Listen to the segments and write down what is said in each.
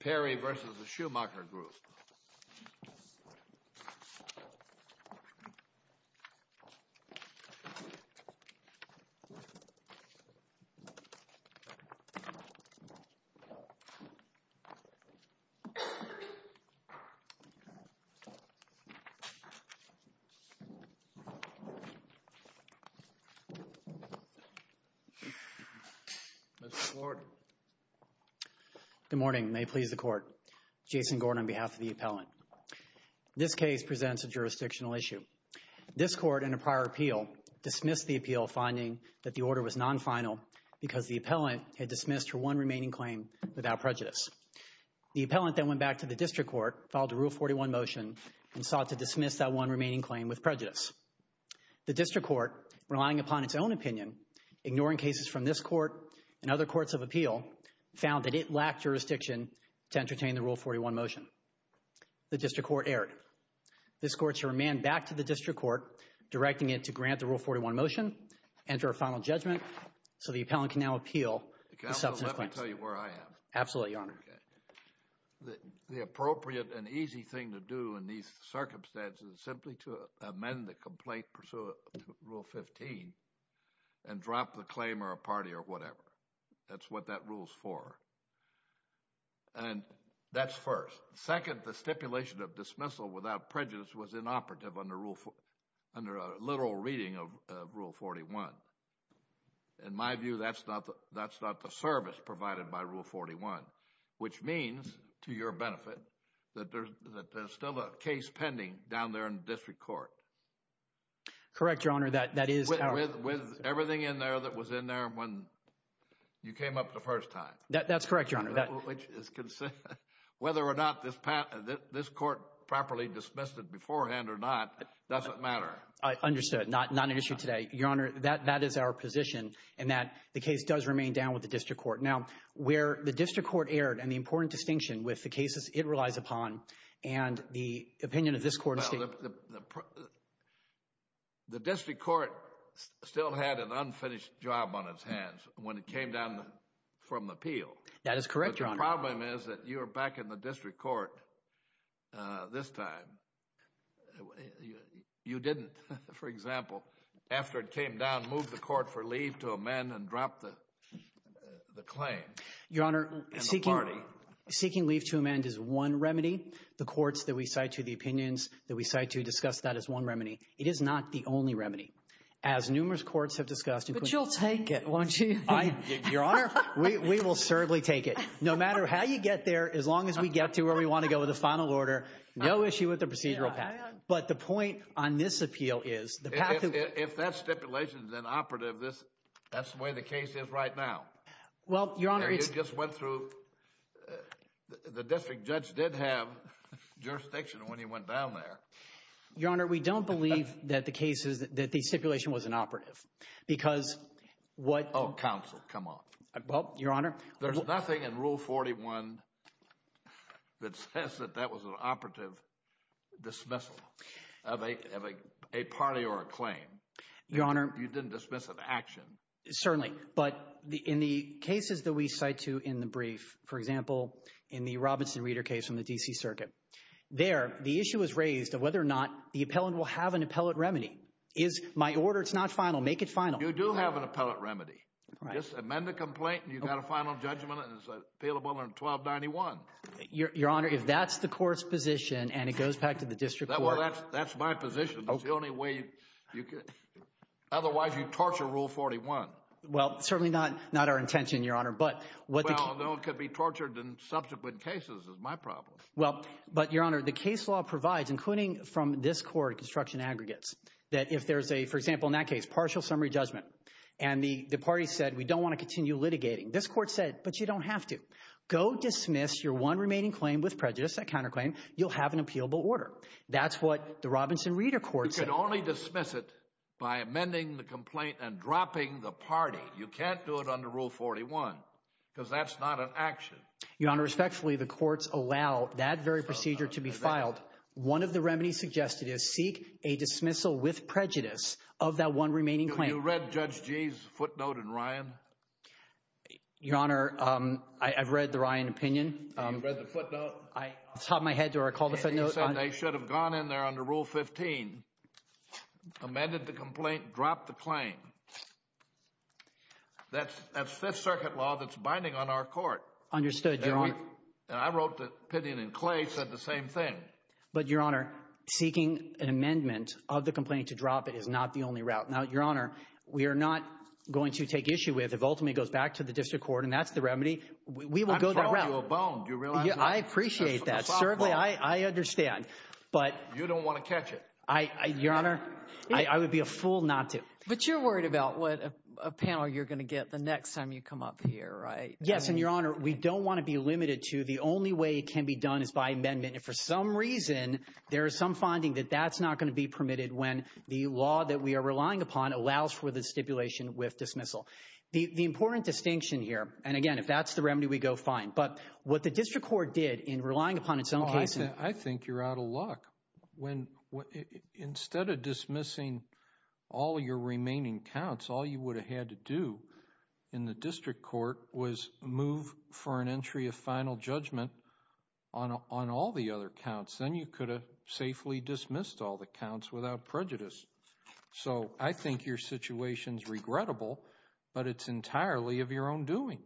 Perry v. The Schumacher Group Good morning. May it please the Court. Jason Gordon on behalf of the appellant. This case presents a jurisdictional issue. This court in a prior appeal dismissed the appeal finding that the order was non-final because the appellant had dismissed her one remaining claim without prejudice. The appellant then went back to the district court, filed a Rule 41 motion, and sought to dismiss that one remaining claim with prejudice. The district court, relying upon its own opinion, ignoring cases from this court and other courts of appeal, found that it lacked jurisdiction to entertain the Rule 41 motion. The district court erred. This court shall remand back to the district court, directing it to grant the Rule 41 motion, enter a final judgment, so the appellant can now appeal the substance claims. Counsel, let me tell you where I am. Absolutely, Your Honor. Okay. The appropriate and easy thing to do in these circumstances is simply to amend the complaint and pursue Rule 15 and drop the claim or a party or whatever. That's what that rule's for. And that's first. Second, the stipulation of dismissal without prejudice was inoperative under a literal reading of Rule 41. In my view, that's not the service provided by Rule 41, which means, to your benefit, that there's still a case pending down there in the district court. Correct, Your Honor. With everything in there that was in there when you came up the first time. That's correct, Your Honor. Whether or not this court properly dismissed it beforehand or not doesn't matter. I understood. Not an issue today. Your Honor, that is our position in that the case does remain down with the district court. Now, where the district court erred and the important distinction with the cases it relies upon and the opinion of this court is that— The district court still had an unfinished job on its hands when it came down from the appeal. That is correct, Your Honor. But the problem is that you were back in the district court this time. You didn't, for example, after it came down, move the court for leave to amend and drop the claim. Your Honor, seeking leave to amend is one remedy. The courts that we cite to the opinions that we cite to discuss that is one remedy. It is not the only remedy. As numerous courts have discussed— But you'll take it, won't you? Your Honor, we will certainly take it. No matter how you get there, as long as we get to where we want to go with the final order, no issue with the procedural package. But the point on this appeal is— If that stipulation is inoperative, that's the way the case is right now. Well, Your Honor— You just went through—the district judge did have jurisdiction when he went down there. Your Honor, we don't believe that the stipulation was inoperative because what— Oh, counsel, come on. Well, Your Honor— There's nothing in Rule 41 that says that that was an operative dismissal of a party or a claim. Your Honor— You didn't dismiss an action. Certainly, but in the cases that we cite to in the brief, for example, in the Robinson Reader case from the D.C. Circuit, there, the issue was raised of whether or not the appellant will have an appellate remedy. Is my order—it's not final. Make it final. You do have an appellate remedy. Just amend the complaint, and you've got a final judgment, and it's appealable under 1291. Your Honor, if that's the court's position, and it goes back to the district court— Well, that's my position. It's the only way you could—otherwise, you'd torture Rule 41. Well, certainly not our intention, Your Honor, but what the case— Well, it could be tortured in subsequent cases is my problem. Well, but Your Honor, the case law provides, including from this court, construction aggregates, that if there's a—for example, in that case, partial summary judgment, and the party said, we don't want to continue litigating. This court said, but you don't have to. Go dismiss your one remaining claim with prejudice, that counterclaim. You'll have an appealable order. That's what the Robinson Reader court said. You can only dismiss it by amending the complaint and dropping the party. You can't do it under Rule 41 because that's not an action. Your Honor, respectfully, the courts allow that very procedure to be filed. One of the remedies suggested is seek a dismissal with prejudice of that one remaining claim. You read Judge Gee's footnote in Ryan? Your Honor, I've read the Ryan opinion. You've read the footnote? I—top of my head or I called a footnote on— You said they should have gone in there under Rule 15, amended the complaint, dropped the claim. That's Fifth Circuit law that's binding on our court. Understood, Your Honor. And I wrote the opinion, and Clay said the same thing. But, Your Honor, seeking an amendment of the complaint to drop it is not the only route. Now, Your Honor, we are not going to take issue with if ultimately it goes back to the district court, and that's the remedy. We will go that route. I'm throwing you a bone. Do you realize that? I appreciate that. Certainly, I understand, but— You don't want to catch it. Your Honor, I would be a fool not to. But you're worried about what a panel you're going to get the next time you come up here, right? Yes, and, Your Honor, we don't want to be limited to the only way it can be done is by amendment. If for some reason there is some finding that that's not going to be permitted when the law that we are relying upon allows for the stipulation with dismissal. The important distinction here—and, again, if that's the remedy, we go fine. But what the district court did in relying upon its own case— I think you're out of luck. Instead of dismissing all your remaining counts, all you would have had to do in the district court was move for an entry of final judgment on all the other counts. Then you could have safely dismissed all the counts without prejudice. So I think your situation is regrettable, but it's entirely of your own doing.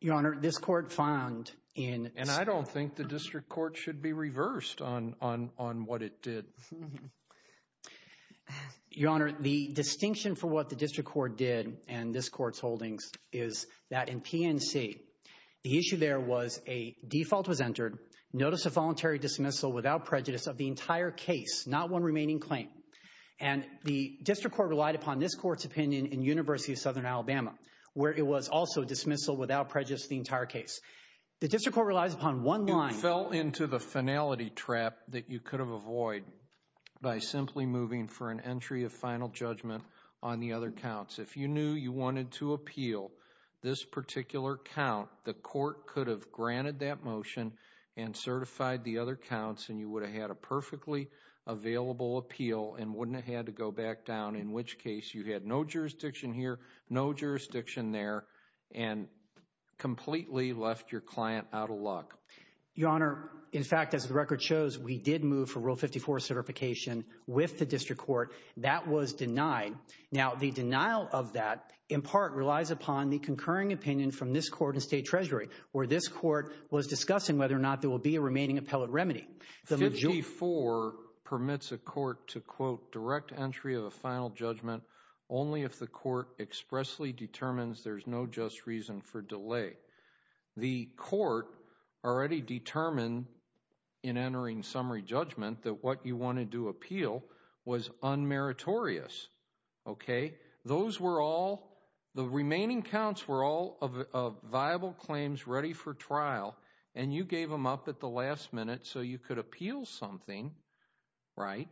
Your Honor, this court found in— And I don't think the district court should be reversed on what it did. Your Honor, the distinction for what the district court did and this court's holdings is that in PNC, the issue there was a default was entered, notice of voluntary dismissal without prejudice of the entire case, not one remaining claim. And the district court relied upon this court's opinion in University of Southern Alabama, where it was also dismissal without prejudice of the entire case. The district court relies upon one line— It fell into the finality trap that you could have avoided by simply moving for an entry of final judgment on the other counts. If you knew you wanted to appeal this particular count, the court could have granted that motion and certified the other counts, and you would have had a perfectly available appeal and wouldn't have had to go back down, in which case you had no jurisdiction here, no jurisdiction there, and completely left your client out of luck. Your Honor, in fact, as the record shows, we did move for Rule 54 certification with the district court. That was denied. Now, the denial of that, in part, relies upon the concurring opinion from this court and state treasury, where this court was discussing whether or not there will be a remaining appellate remedy. Rule 54 permits a court to, quote, direct entry of a final judgment only if the court expressly determines there's no just reason for delay. The court already determined in entering summary judgment that what you wanted to appeal was unmeritorious, okay? Those were all—the remaining counts were all of viable claims ready for trial, and you gave them up at the last minute so you could appeal something, right?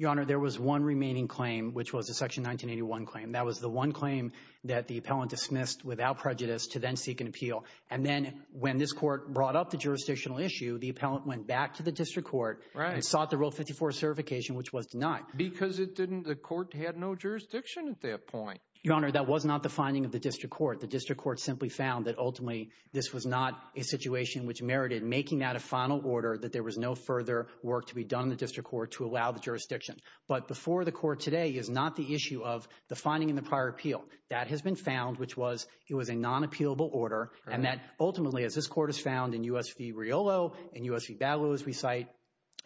Your Honor, there was one remaining claim, which was the Section 1981 claim. That was the one claim that the appellant dismissed without prejudice to then seek an appeal. And then when this court brought up the jurisdictional issue, the appellant went back to the district court and sought the Rule 54 certification, which was denied. Because it didn't—the court had no jurisdiction at that point. Your Honor, that was not the finding of the district court. The district court simply found that, ultimately, this was not a situation which merited making that a final order, that there was no further work to be done in the district court to allow the jurisdiction. But before the court today is not the issue of the finding in the prior appeal. That has been found, which was it was a non-appealable order, and that, ultimately, as this court has found in U.S. v. Riolo and U.S. v. Bagalow, as we cite,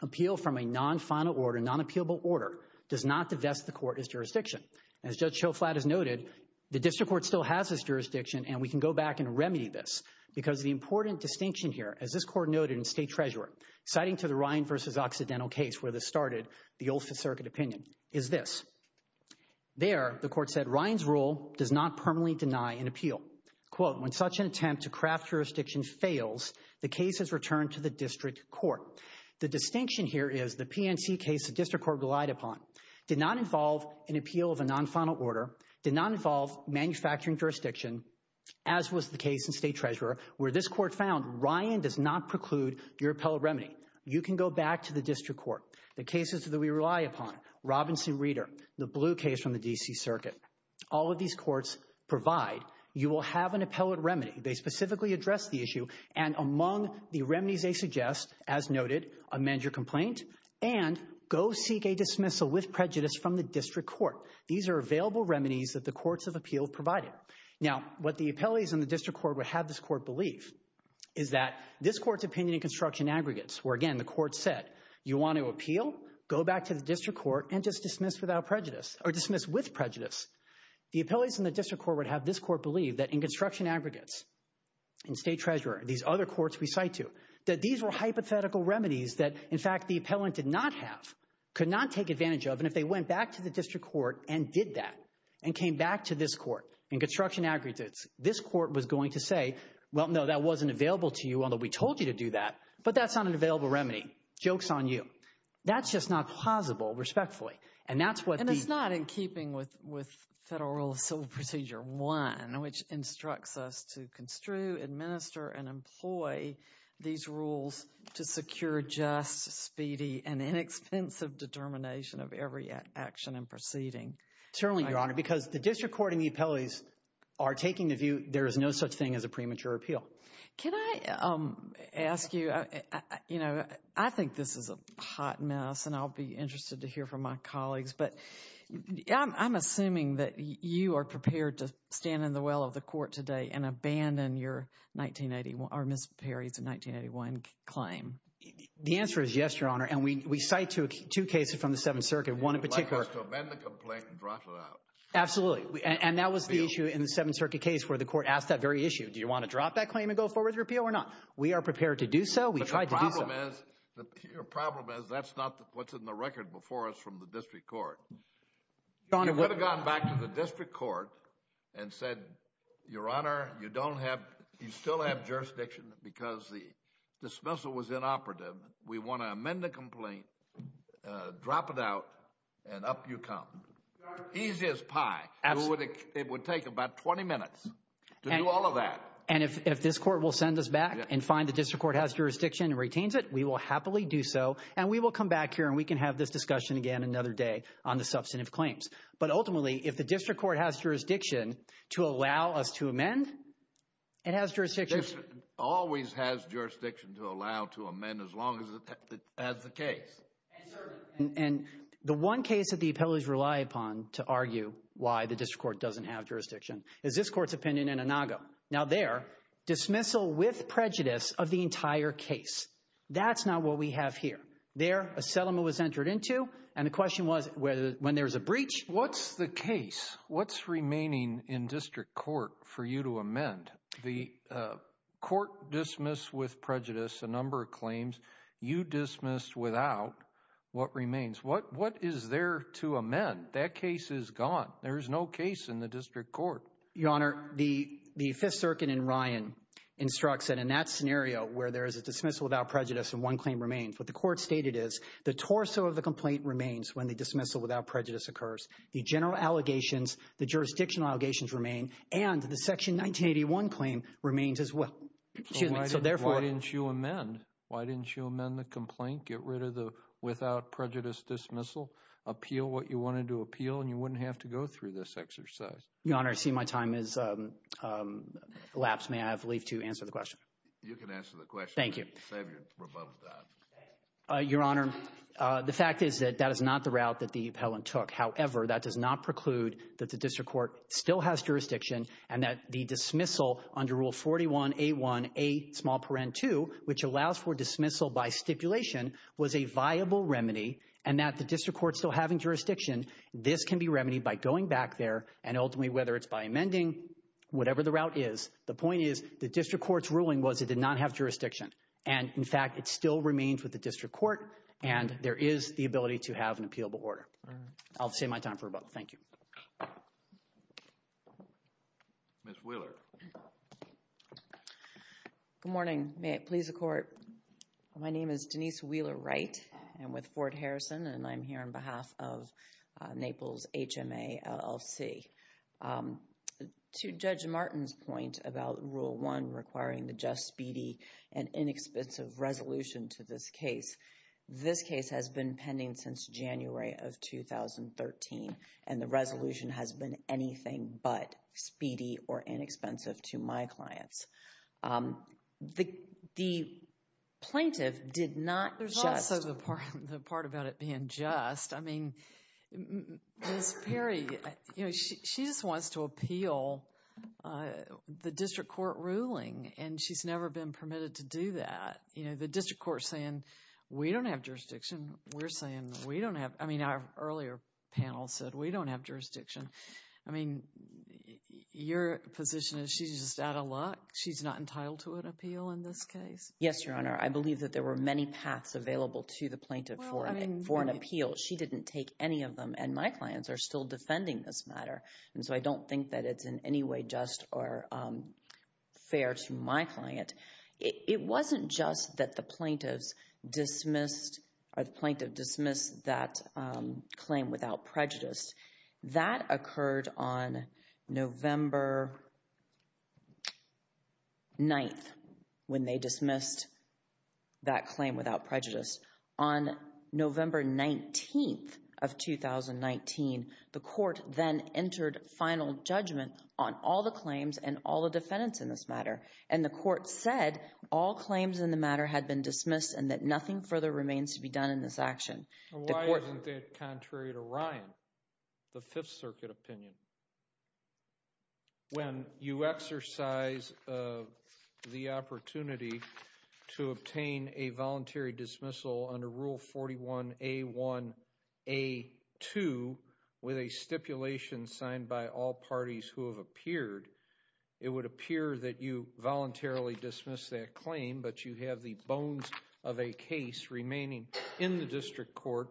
appeal from a non-final order, non-appealable order, does not divest the court as jurisdiction. As Judge Schoflat has noted, the district court still has this jurisdiction, and we can go back and remedy this. Because the important distinction here, as this court noted in State Treasurer, citing to the Ryan v. Occidental case where this started, the Old Fifth Circuit opinion, is this. There, the court said, Ryan's rule does not permanently deny an appeal. Quote, when such an attempt to craft jurisdiction fails, the case is returned to the district court. The distinction here is the PNC case the district court relied upon did not involve an appeal of a non-final order, did not involve manufacturing jurisdiction, as was the case in State Treasurer where this court found Ryan does not preclude your appellate remedy. You can go back to the district court. The cases that we rely upon, Robinson Reader, the blue case from the D.C. Circuit, all of these courts provide you will have an appellate remedy. They specifically address the issue, and among the remedies they suggest, as noted, amend your complaint, and go seek a dismissal with prejudice from the district court. These are available remedies that the courts of appeal provided. Now, what the appellates in the district court would have this court believe is that this court's opinion in construction aggregates, where, again, the court said, you want to appeal? Go back to the district court and just dismiss without prejudice or dismiss with prejudice. The appellates in the district court would have this court believe that in construction aggregates, in State Treasurer, these other courts we cite to, that these were hypothetical remedies that, in fact, the appellant did not have, could not take advantage of, and if they went back to the district court and did that and came back to this court in construction aggregates, this court was going to say, well, no, that wasn't available to you, although we told you to do that, but that's not an available remedy. Joke's on you. That's just not plausible, respectfully. And it's not in keeping with Federal Rule of Civil Procedure 1, which instructs us to construe, administer, and employ these rules to secure just, speedy, and inexpensive determination of every action and proceeding. Certainly, Your Honor, because the district court and the appellates are taking the view there is no such thing as a premature appeal. Can I ask you, you know, I think this is a hot mess, and I'll be interested to hear from my colleagues, but I'm assuming that you are prepared to stand in the well of the court today and abandon your Miss Perry's 1981 claim. The answer is yes, Your Honor, and we cite two cases from the Seventh Circuit, one in particular. You would like us to amend the complaint and drop it out. Absolutely, and that was the issue in the Seventh Circuit case where the court asked that very issue. Do you want to drop that claim and go forward with repeal or not? We are prepared to do so. We tried to do so. But the problem is that's not what's in the record before us from the district court. You could have gone back to the district court and said, Your Honor, you still have jurisdiction because the dismissal was inoperative. We want to amend the complaint, drop it out, and up you come. Easy as pie. It would take about 20 minutes to do all of that. And if this court will send us back and find the district court has jurisdiction and retains it, we will happily do so, and we will come back here and we can have this discussion again another day on the substantive claims. But ultimately, if the district court has jurisdiction to allow us to amend, it has jurisdiction. It always has jurisdiction to allow to amend as long as it has the case. And the one case that the appellees rely upon to argue why the district court doesn't have jurisdiction is this court's opinion in Inago. Now there, dismissal with prejudice of the entire case. That's not what we have here. There, a settlement was entered into, and the question was when there was a breach. What's the case? What's remaining in district court for you to amend? The court dismissed with prejudice a number of claims. You dismissed without what remains. What is there to amend? That case is gone. There is no case in the district court. Your Honor, the Fifth Circuit in Ryan instructs that in that scenario where there is a dismissal without prejudice and one claim remains, what the court stated is the torso of the complaint remains when the dismissal without prejudice occurs. The general allegations, the jurisdictional allegations remain, and the Section 1981 claim remains as well. Excuse me. So therefore— Why didn't you amend? Why didn't you amend the complaint? Get rid of the without prejudice dismissal? Appeal what you wanted to appeal, and you wouldn't have to go through this exercise. Your Honor, I see my time has elapsed. May I have Leif to answer the question? You can answer the question. Thank you. Save your rebuttal time. Your Honor, the fact is that that is not the route that the appellant took. However, that does not preclude that the district court still has jurisdiction and that the dismissal under Rule 41A1A2, which allows for dismissal by stipulation, was a viable remedy and that the district court still having jurisdiction, this can be remedied by going back there and ultimately, whether it's by amending, whatever the route is. The point is the district court's ruling was it did not have jurisdiction. And, in fact, it still remains with the district court, and there is the ability to have an appealable order. All right. I'll save my time for rebuttal. Thank you. Ms. Wheeler. Good morning. May it please the Court. My name is Denise Wheeler Wright. I'm with Fort Harrison, and I'm here on behalf of Naples HMALC. To Judge Martin's point about Rule 1 requiring the just, speedy, and inexpensive resolution to this case, this case has been pending since January of 2013, and the resolution has been anything but speedy or inexpensive to my clients. The plaintiff did not just. There's also the part about it being just. I mean, Ms. Perry, you know, she just wants to appeal the district court ruling, and she's never been permitted to do that. You know, the district court's saying we don't have jurisdiction. We're saying we don't have. I mean, our earlier panel said we don't have jurisdiction. I mean, your position is she's just out of luck? She's not entitled to an appeal in this case? Yes, Your Honor. I believe that there were many paths available to the plaintiff for an appeal. She didn't take any of them, and my clients are still defending this matter. And so I don't think that it's in any way just or fair to my client. It wasn't just that the plaintiff dismissed that claim without prejudice. That occurred on November 9th when they dismissed that claim without prejudice. On November 19th of 2019, the court then entered final judgment on all the claims and all the defendants in this matter, and the court said all claims in the matter had been dismissed and that nothing further remains to be done in this action. Why isn't that contrary to Ryan, the Fifth Circuit opinion? When you exercise the opportunity to obtain a voluntary dismissal under Rule 41A1A2 with a stipulation signed by all parties who have appeared, it would appear that you voluntarily dismissed that claim, but you have the bones of a case remaining in the district court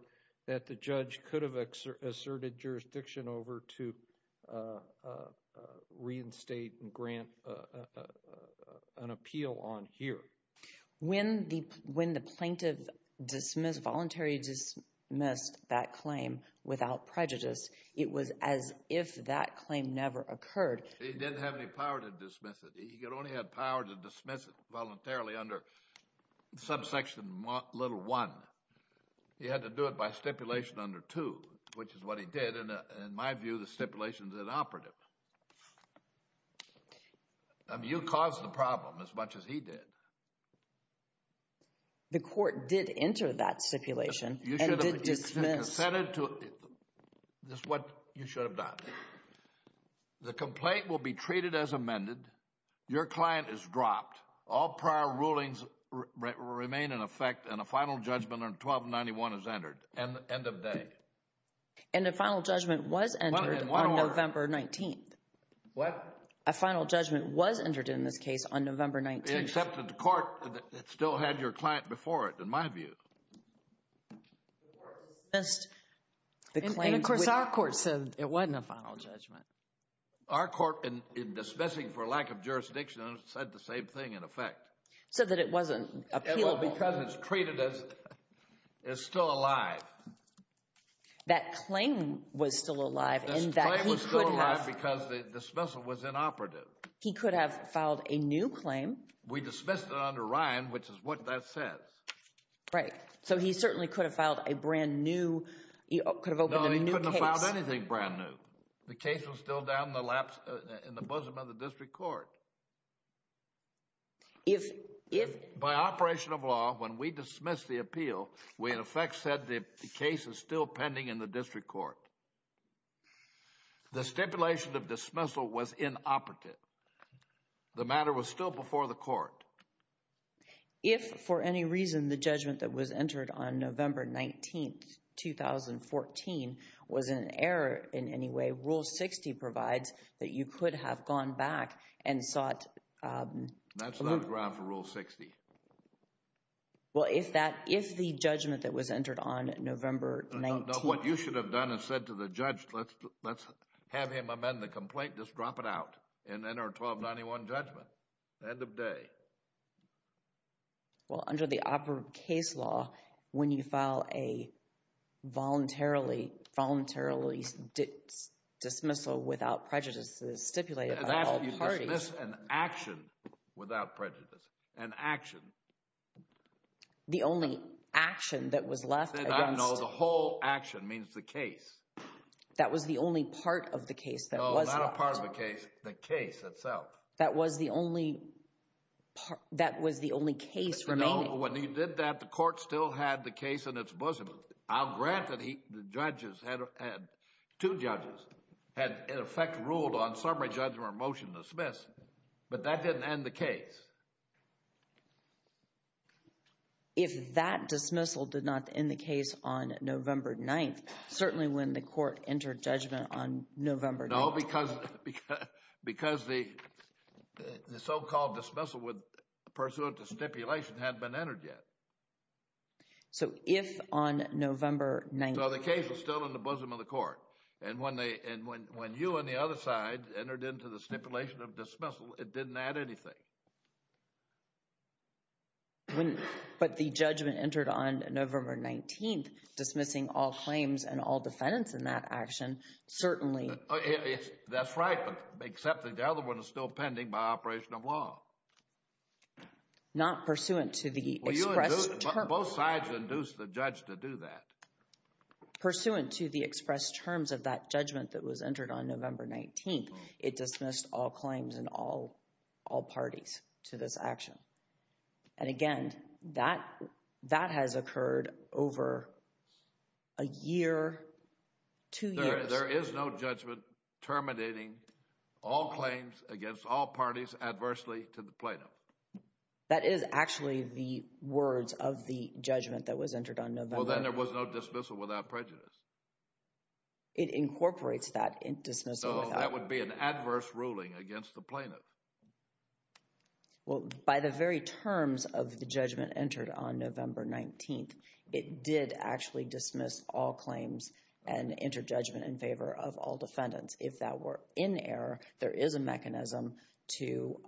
that the judge could have asserted jurisdiction over to reinstate and grant an appeal on here. When the plaintiff voluntarily dismissed that claim without prejudice, it was as if that claim never occurred. He didn't have any power to dismiss it. He only had power to dismiss it voluntarily under subsection little one. He had to do it by stipulation under two, which is what he did. In my view, the stipulation is inoperative. You caused the problem as much as he did. The court did enter that stipulation and did dismiss. That's what you should have done. The complaint will be treated as amended. Your client is dropped. All prior rulings remain in effect and a final judgment on 1291 is entered. End of day. And a final judgment was entered on November 19th. What? A final judgment was entered in this case on November 19th. Except that the court still had your client before it, in my view. The court dismissed the claim. And of course our court said it wasn't a final judgment. Our court, in dismissing for lack of jurisdiction, said the same thing in effect. Said that it wasn't appealable. Because it's treated as still alive. That claim was still alive. That claim was still alive because the dismissal was inoperative. He could have filed a new claim. We dismissed it under Ryan, which is what that says. Right. So he certainly could have filed a brand new, could have opened a new case. No, he couldn't have filed anything brand new. The case was still down in the laps, in the bosom of the district court. If, if. By operation of law, when we dismissed the appeal, we in effect said the case is still pending in the district court. The stipulation of dismissal was inoperative. The matter was still before the court. If, for any reason, the judgment that was entered on November 19, 2014, was in error in any way, Rule 60 provides that you could have gone back and sought… That's not a ground for Rule 60. Well, if that, if the judgment that was entered on November 19… No, what you should have done is said to the judge, let's have him amend the complaint, just drop it out. And enter a 1291 judgment. End of day. Well, under the operative case law, when you file a voluntarily, voluntarily dismissal without prejudices stipulated by all parties… That's an action without prejudice. An action. The only action that was left against… Then I know the whole action means the case. That was the only part of the case that was left. Well, not a part of the case, the case itself. That was the only, that was the only case remaining. No, when he did that, the court still had the case in its bosom. Now, granted, the judges had, two judges, had in effect ruled on summary judgment or motion dismiss, but that didn't end the case. If that dismissal did not end the case on November 9, certainly when the court entered judgment on November 9… No, because the so-called dismissal pursuant to stipulation hadn't been entered yet. So, if on November 9… So, the case is still in the bosom of the court. And when you on the other side entered into the stipulation of dismissal, it didn't add anything. But the judgment entered on November 19, dismissing all claims and all defendants in that action, certainly… That's right, but except that the other one is still pending by operation of law. Not pursuant to the express… Well, you induced, both sides induced the judge to do that. Pursuant to the express terms of that judgment that was entered on November 19, it dismissed all claims and all parties to this action. And again, that has occurred over a year, two years. There is no judgment terminating all claims against all parties adversely to the plaintiff. That is actually the words of the judgment that was entered on November… Well, then there was no dismissal without prejudice. It incorporates that dismissal without… So, that would be an adverse ruling against the plaintiff. Well, by the very terms of the judgment entered on November 19, it did actually dismiss all claims and enter judgment in favor of all defendants. If that were in error, there is a mechanism to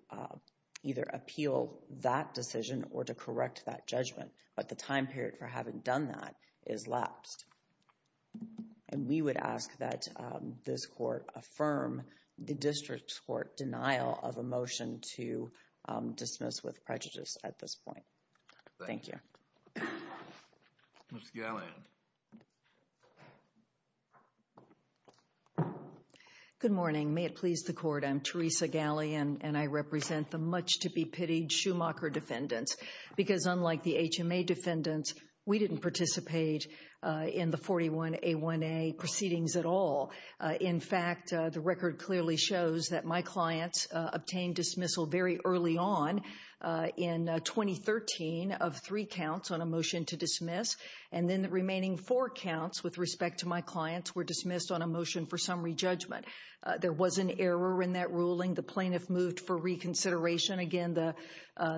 either appeal that decision or to correct that judgment. But the time period for having done that is lapsed. And we would ask that this court affirm the district court denial of a motion to dismiss with prejudice at this point. Thank you. Ms. Galleon. Good morning. May it please the court, I'm Teresa Galleon and I represent the much to be pitied Schumacher defendants. Because unlike the HMA defendants, we didn't participate in the 41A1A proceedings at all. In fact, the record clearly shows that my clients obtained dismissal very early on in 2013 of three counts on a motion to dismiss. And then the remaining four counts with respect to my clients were dismissed on a motion for summary judgment. There was an error in that ruling. The plaintiff moved for reconsideration. Again, the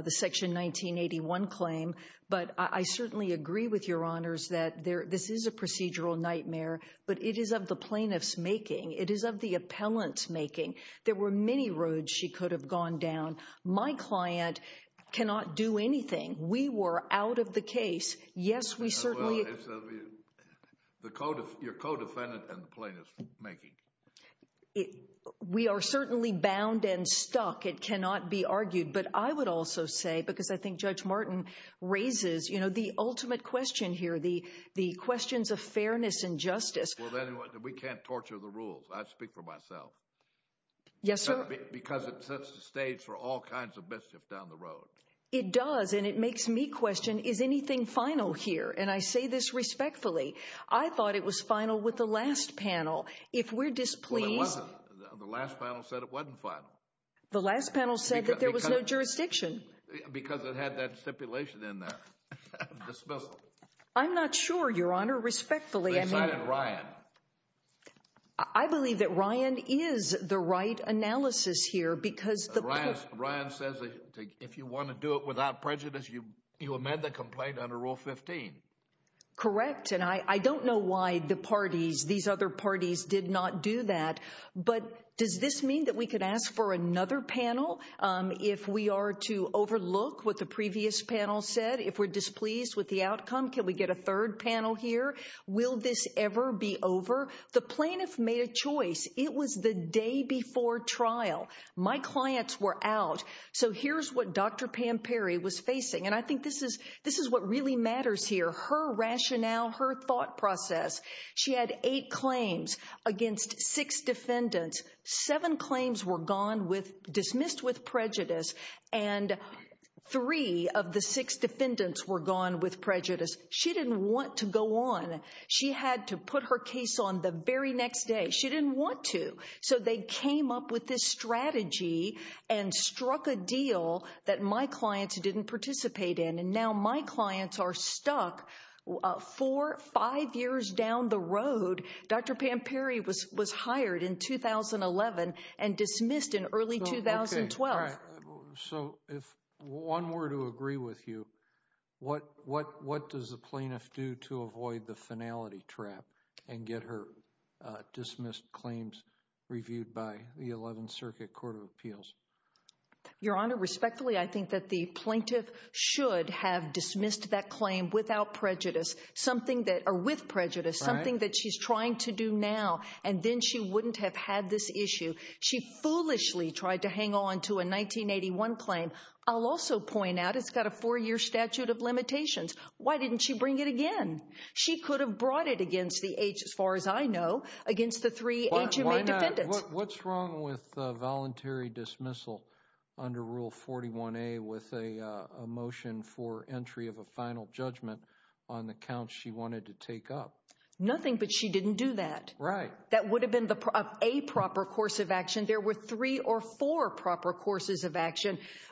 section 1981 claim. But I certainly agree with your honors that this is a procedural nightmare. But it is of the plaintiff's making. It is of the appellant's making. There were many roads she could have gone down. My client cannot do anything. We were out of the case. Yes, we certainly. Your co-defendant and the plaintiff's making. We are certainly bound and stuck. It cannot be argued. But I would also say, because I think Judge Martin raises, you know, the ultimate question here. The questions of fairness and justice. We can't torture the rules. I speak for myself. Yes, sir. Because it sets the stage for all kinds of mischief down the road. It does. And it makes me question, is anything final here? And I say this respectfully. I thought it was final with the last panel. If we're displeased. Well, it wasn't. The last panel said it wasn't final. The last panel said that there was no jurisdiction. Because it had that stipulation in there. Dismissal. I'm not sure, Your Honor. Respectfully, I mean. They cited Ryan. I believe that Ryan is the right analysis here. Ryan says if you want to do it without prejudice, you amend the complaint under Rule 15. Correct. And I don't know why the parties, these other parties, did not do that. But does this mean that we could ask for another panel if we are to overlook what the previous panel said? If we're displeased with the outcome, can we get a third panel here? Will this ever be over? The plaintiff made a choice. It was the day before trial. My clients were out. So here's what Dr. Pam Perry was facing. And I think this is what really matters here. Her rationale. Her thought process. She had eight claims against six defendants. Seven claims were gone with, dismissed with prejudice. And three of the six defendants were gone with prejudice. She didn't want to go on. She had to put her case on the very next day. She didn't want to. So they came up with this strategy and struck a deal that my clients didn't participate in. And now my clients are stuck four, five years down the road. Dr. Pam Perry was hired in 2011 and dismissed in early 2012. So if one were to agree with you, what does the plaintiff do to avoid the finality trap and get her dismissed claims reviewed by the 11th Circuit Court of Appeals? Your Honor, respectfully, I think that the plaintiff should have dismissed that claim without prejudice. Something that, or with prejudice. Something that she's trying to do now. And then she wouldn't have had this issue. She foolishly tried to hang on to a 1981 claim. I'll also point out it's got a four-year statute of limitations. Why didn't she bring it again? She could have brought it against the eight, as far as I know, against the three eight who made defendants. What's wrong with voluntary dismissal under Rule 41A with a motion for entry of a final judgment on the counts she wanted to take up? Nothing, but she didn't do that. Right. That would have been a proper course of action.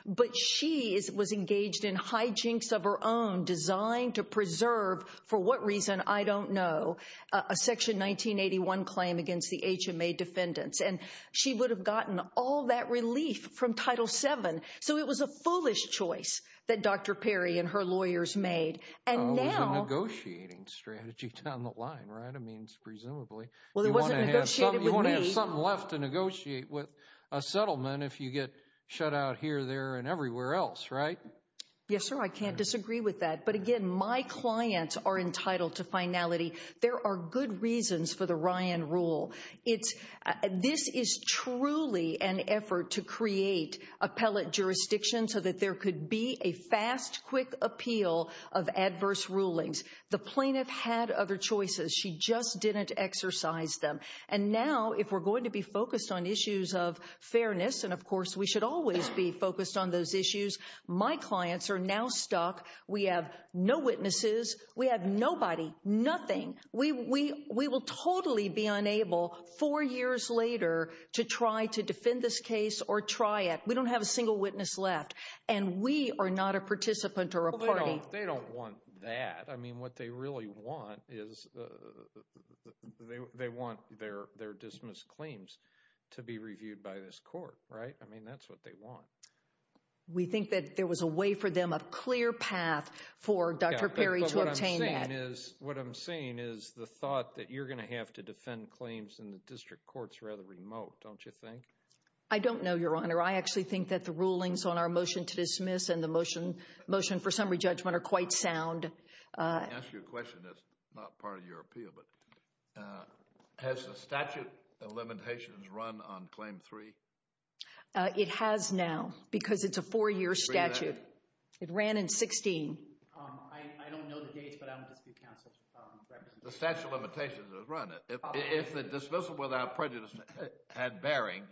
But she was engaged in hijinks of her own designed to preserve, for what reason, I don't know, a Section 1981 claim against the HMA defendants. And she would have gotten all that relief from Title VII. So it was a foolish choice that Dr. Perry and her lawyers made. And now— It was a negotiating strategy down the line, right? I mean, presumably. Well, it wasn't negotiated with me. There's something left to negotiate with a settlement if you get shut out here, there, and everywhere else, right? Yes, sir, I can't disagree with that. But, again, my clients are entitled to finality. There are good reasons for the Ryan Rule. This is truly an effort to create appellate jurisdiction so that there could be a fast, quick appeal of adverse rulings. The plaintiff had other choices. She just didn't exercise them. And now, if we're going to be focused on issues of fairness—and, of course, we should always be focused on those issues—my clients are now stuck. We have no witnesses. We have nobody, nothing. We will totally be unable, four years later, to try to defend this case or try it. We don't have a single witness left. And we are not a participant or a party. They don't want that. I mean, what they really want is they want their dismissed claims to be reviewed by this court, right? I mean, that's what they want. We think that there was a way for them, a clear path for Dr. Perry to obtain that. But what I'm saying is the thought that you're going to have to defend claims in the district court is rather remote, don't you think? I don't know, Your Honor. I actually think that the rulings on our motion to dismiss and the motion for summary judgment are quite sound. Let me ask you a question that's not part of your appeal. Has the statute of limitations run on Claim 3? It has now because it's a four-year statute. It ran in 2016. I don't know the dates, but I don't dispute counsel's references. The statute of limitations has run it. If the dismissal without prejudice had bearing,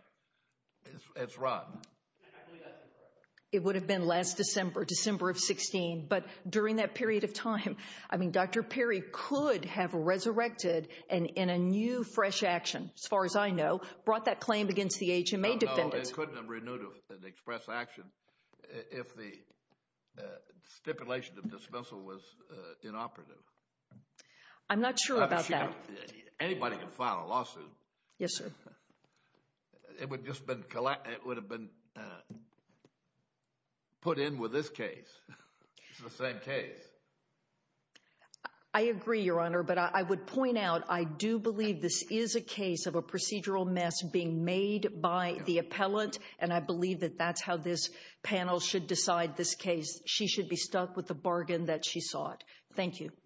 it's run. I believe that's incorrect. It would have been last December, December of 2016. But during that period of time, I mean, Dr. Perry could have resurrected and in a new fresh action, as far as I know, brought that claim against the HMA defendant. No, no, it couldn't have renewed an express action if the stipulation of dismissal was inoperative. I'm not sure about that. Anybody can file a lawsuit. Yes, sir. It would have been put in with this case, the same case. I agree, Your Honor, but I would point out I do believe this is a case of a procedural mess being made by the appellant, and I believe that that's how this panel should decide this case. She should be stuck with the bargain that she sought. Thank you. Thank you.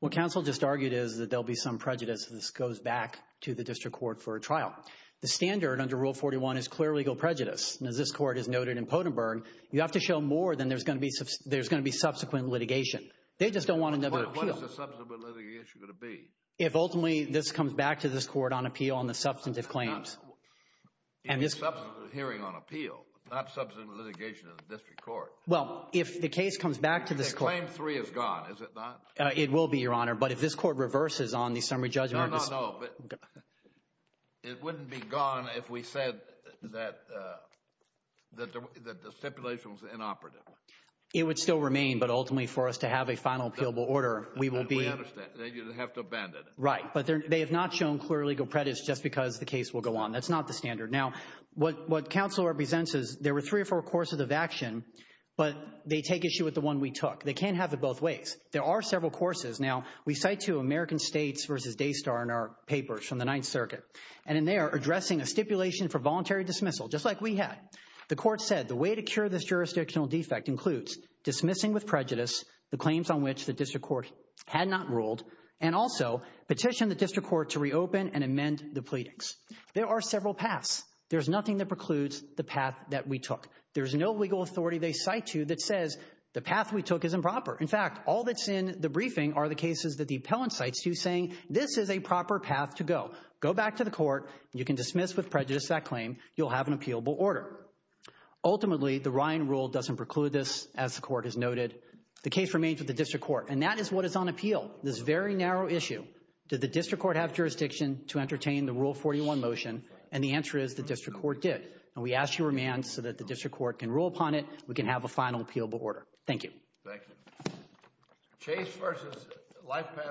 What counsel just argued is that there will be some prejudice if this goes back to the district court for a trial. The standard under Rule 41 is clear legal prejudice, and as this court has noted in Pottenberg, you have to show more than there's going to be subsequent litigation. They just don't want another appeal. What is the subsequent litigation going to be? If ultimately this comes back to this court on appeal on the substantive claims. Subsequent hearing on appeal, not subsequent litigation of the district court. Well, if the case comes back to this court. Claim three is gone, is it not? It will be, Your Honor, but if this court reverses on the summary judgment. No, no, no. It wouldn't be gone if we said that the stipulation was inoperative. It would still remain, but ultimately for us to have a final appealable order, we will be. We understand. You'd have to abandon it. Right, but they have not shown clear legal prejudice just because the case will go on. That's not the standard. Now, what counsel represents is there were three or four courses of action, but they take issue with the one we took. They can't have it both ways. There are several courses. Now, we cite two American states versus Daystar in our papers from the Ninth Circuit. And in there, addressing a stipulation for voluntary dismissal, just like we had. The court said the way to cure this jurisdictional defect includes dismissing with prejudice the claims on which the district court had not ruled and also petition the district court to reopen and amend the pleadings. There are several paths. There's nothing that precludes the path that we took. There's no legal authority they cite to that says the path we took is improper. In fact, all that's in the briefing are the cases that the appellant cites to saying this is a proper path to go. Go back to the court. You can dismiss with prejudice that claim. You'll have an appealable order. Ultimately, the Ryan rule doesn't preclude this. As the court has noted, the case remains with the district court, and that is what is on appeal. This very narrow issue, did the district court have jurisdiction to entertain the Rule 41 motion? And the answer is the district court did. And we ask your remand so that the district court can rule upon it. We can have a final appealable order. Thank you. Thank you.